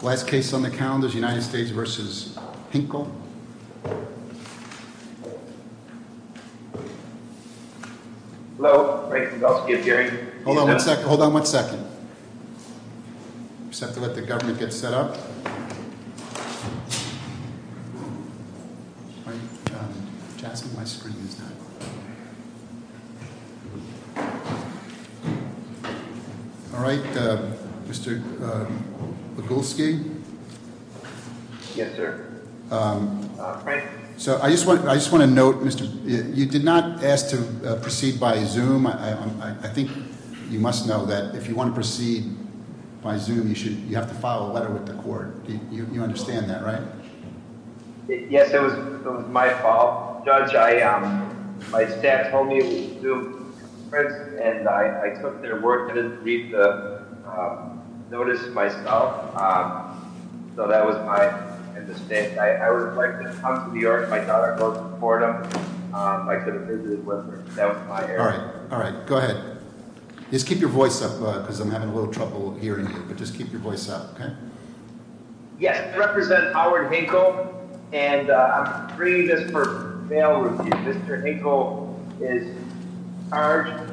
Last case on the calendar is United States v. Hinkle I just want to note, you did not ask to proceed by Zoom. I think you must know that if you want to proceed by Zoom, you have to file a letter with the court. You understand that, right? Yes, it was my fault. Judge, my staff told me to do a press conference and I took their word and didn't read the notice myself. So that was my mistake. I would have liked to have come to New York if I thought I could support them. Alright, go ahead. Just keep your voice up because I'm having a little trouble hearing you. Yes, I represent Howard Hinkle and I'm bringing this for bail review. Mr. Hinkle is charged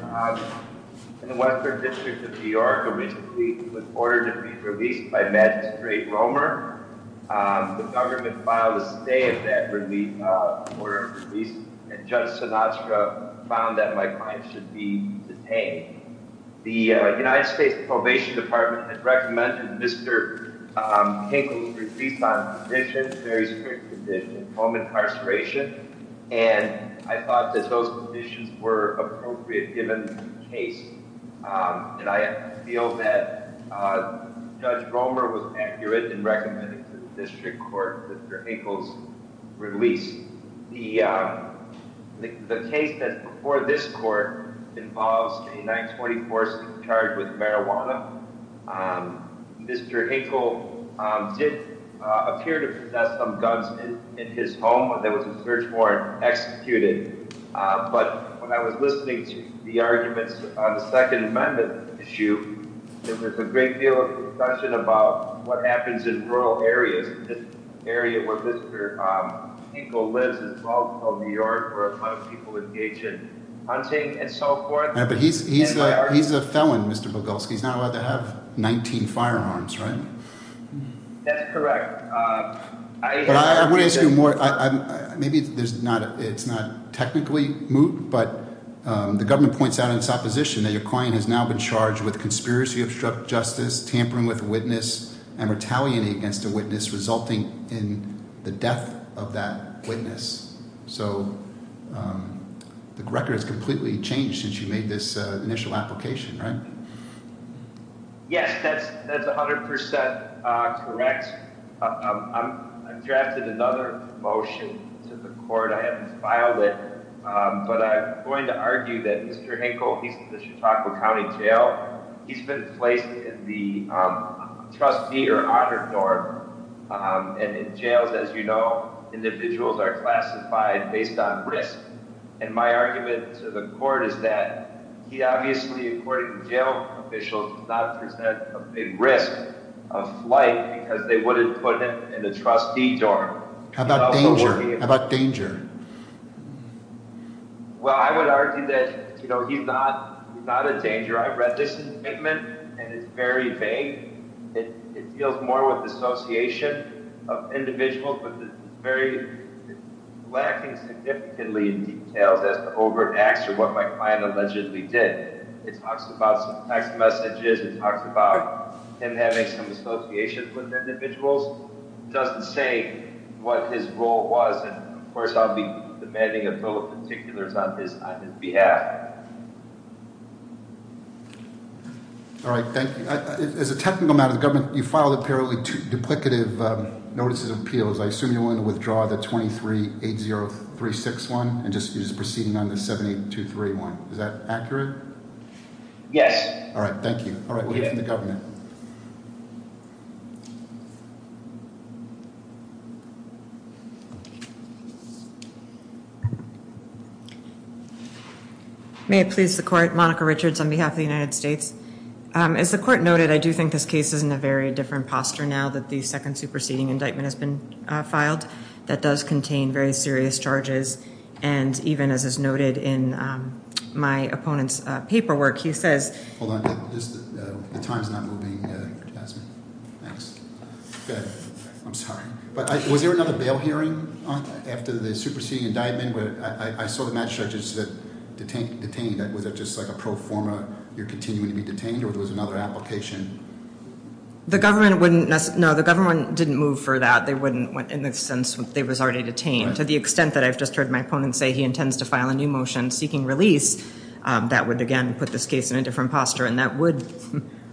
in the Western District of New York originally with order to be released by Magistrate Romer. The government filed a stay of that order of release and Judge Sinatra found that my client should be detained. The United States Probation Department had recommended Mr. Hinkle's release on conditions, very strict conditions, home incarceration, and I thought that those conditions were appropriate given the case. And I feel that Judge Romer was accurate in recommending to the district court Mr. Hinkle's release. The case that's before this court involves a 920 force charged with marijuana. Mr. Hinkle did appear to possess some guns in his home when there was a search warrant executed. But when I was listening to the arguments on the Second Amendment issue, there was a great deal of discussion about what happens in rural areas. This area where Mr. Hinkle lives is called New York where a lot of people engage in hunting and so forth. But he's a felon, Mr. Bogulski. He's not allowed to have 19 firearms, right? That's correct. I would ask you more. Maybe it's not technically moot, but the government points out in its opposition that your client has now been charged with conspiracy to obstruct justice, tampering with witness, and retaliating against a witness resulting in the death of that witness. So the record has completely changed since you made this initial application, right? Yes, that's 100% correct. I've drafted another motion to the court. I haven't filed it, but I'm going to argue that Mr. Hinkle, he's in the Chautauqua County Jail. He's been placed in the trustee or honor dorm. And in jails, as you know, individuals are classified based on risk. And my argument to the court is that he obviously, according to jail officials, does not present a big risk of flight because they wouldn't put him in the trustee dorm. How about danger? Well, I would argue that he's not a danger. I've read this indictment, and it's very vague. It deals more with the association of individuals, but it's very lacking significantly in details as to overt acts or what my client allegedly did. It talks about some text messages. It talks about him having some associations with individuals. It doesn't say what his role was. And of course, I'll be demanding a bill of particulars on his behalf. All right. Thank you. As a technical matter, the government, you filed apparently duplicative notices of appeals. I assume you want to withdraw the 2380361 and just use proceeding on the 78231. Is that accurate? Yes. All right. Thank you. All right. May it please the court. Monica Richards on behalf of the United States. As the court noted, I do think this case is in a very different posture now that the second superseding indictment has been filed that does contain very serious charges. And even as is noted in my opponent's paperwork, he says. Hold on. The time's not moving, Jasmine. Thanks. Good. I'm sorry. But was there another bail hearing after the superseding indictment? I saw the magistrate just said detained. Was it just like a pro forma, you're continuing to be detained, or there was another application? The government wouldn't. No, the government didn't move for that. They wouldn't, in the sense that they was already detained. To the extent that I've just heard my opponent say he intends to file a new motion seeking release, that would, again, put this case in a different posture. And that would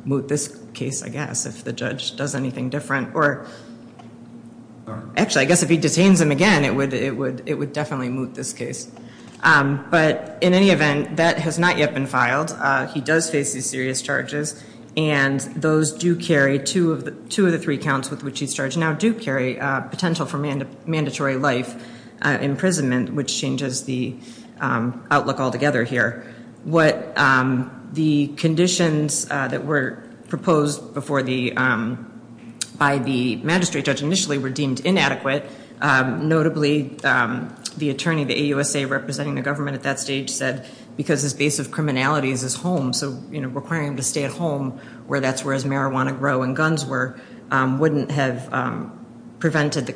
moot this case, I guess, if the judge does anything different. Actually, I guess if he detains him again, it would definitely moot this case. But in any event, that has not yet been filed. He does face these serious charges. And those do carry two of the three counts with which he's charged now do carry potential for mandatory life imprisonment, which changes the outlook altogether here. What the conditions that were proposed by the magistrate judge initially were deemed inadequate. Notably, the attorney, the AUSA representing the government at that stage, said because his base of criminality is his home, so requiring him to stay at home where that's where his marijuana grow and guns were wouldn't have prevented the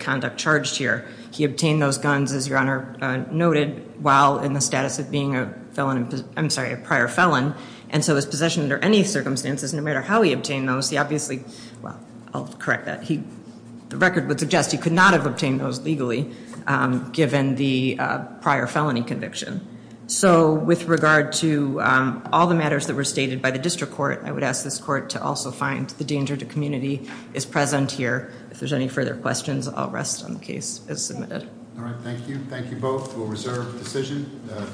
conduct charged here. He obtained those guns, as your honor noted, while in the status of being a felon, I'm sorry, a prior felon. And so his possession under any circumstances, no matter how he obtained those, he obviously, well, I'll correct that. The record would suggest he could not have obtained those legally, given the prior felony conviction. So with regard to all the matters that were stated by the district court, I would ask this court to also find the danger to community is present here. If there's any further questions, I'll rest on the case as submitted. All right. Thank you. Thank you both. We'll reserve the decision.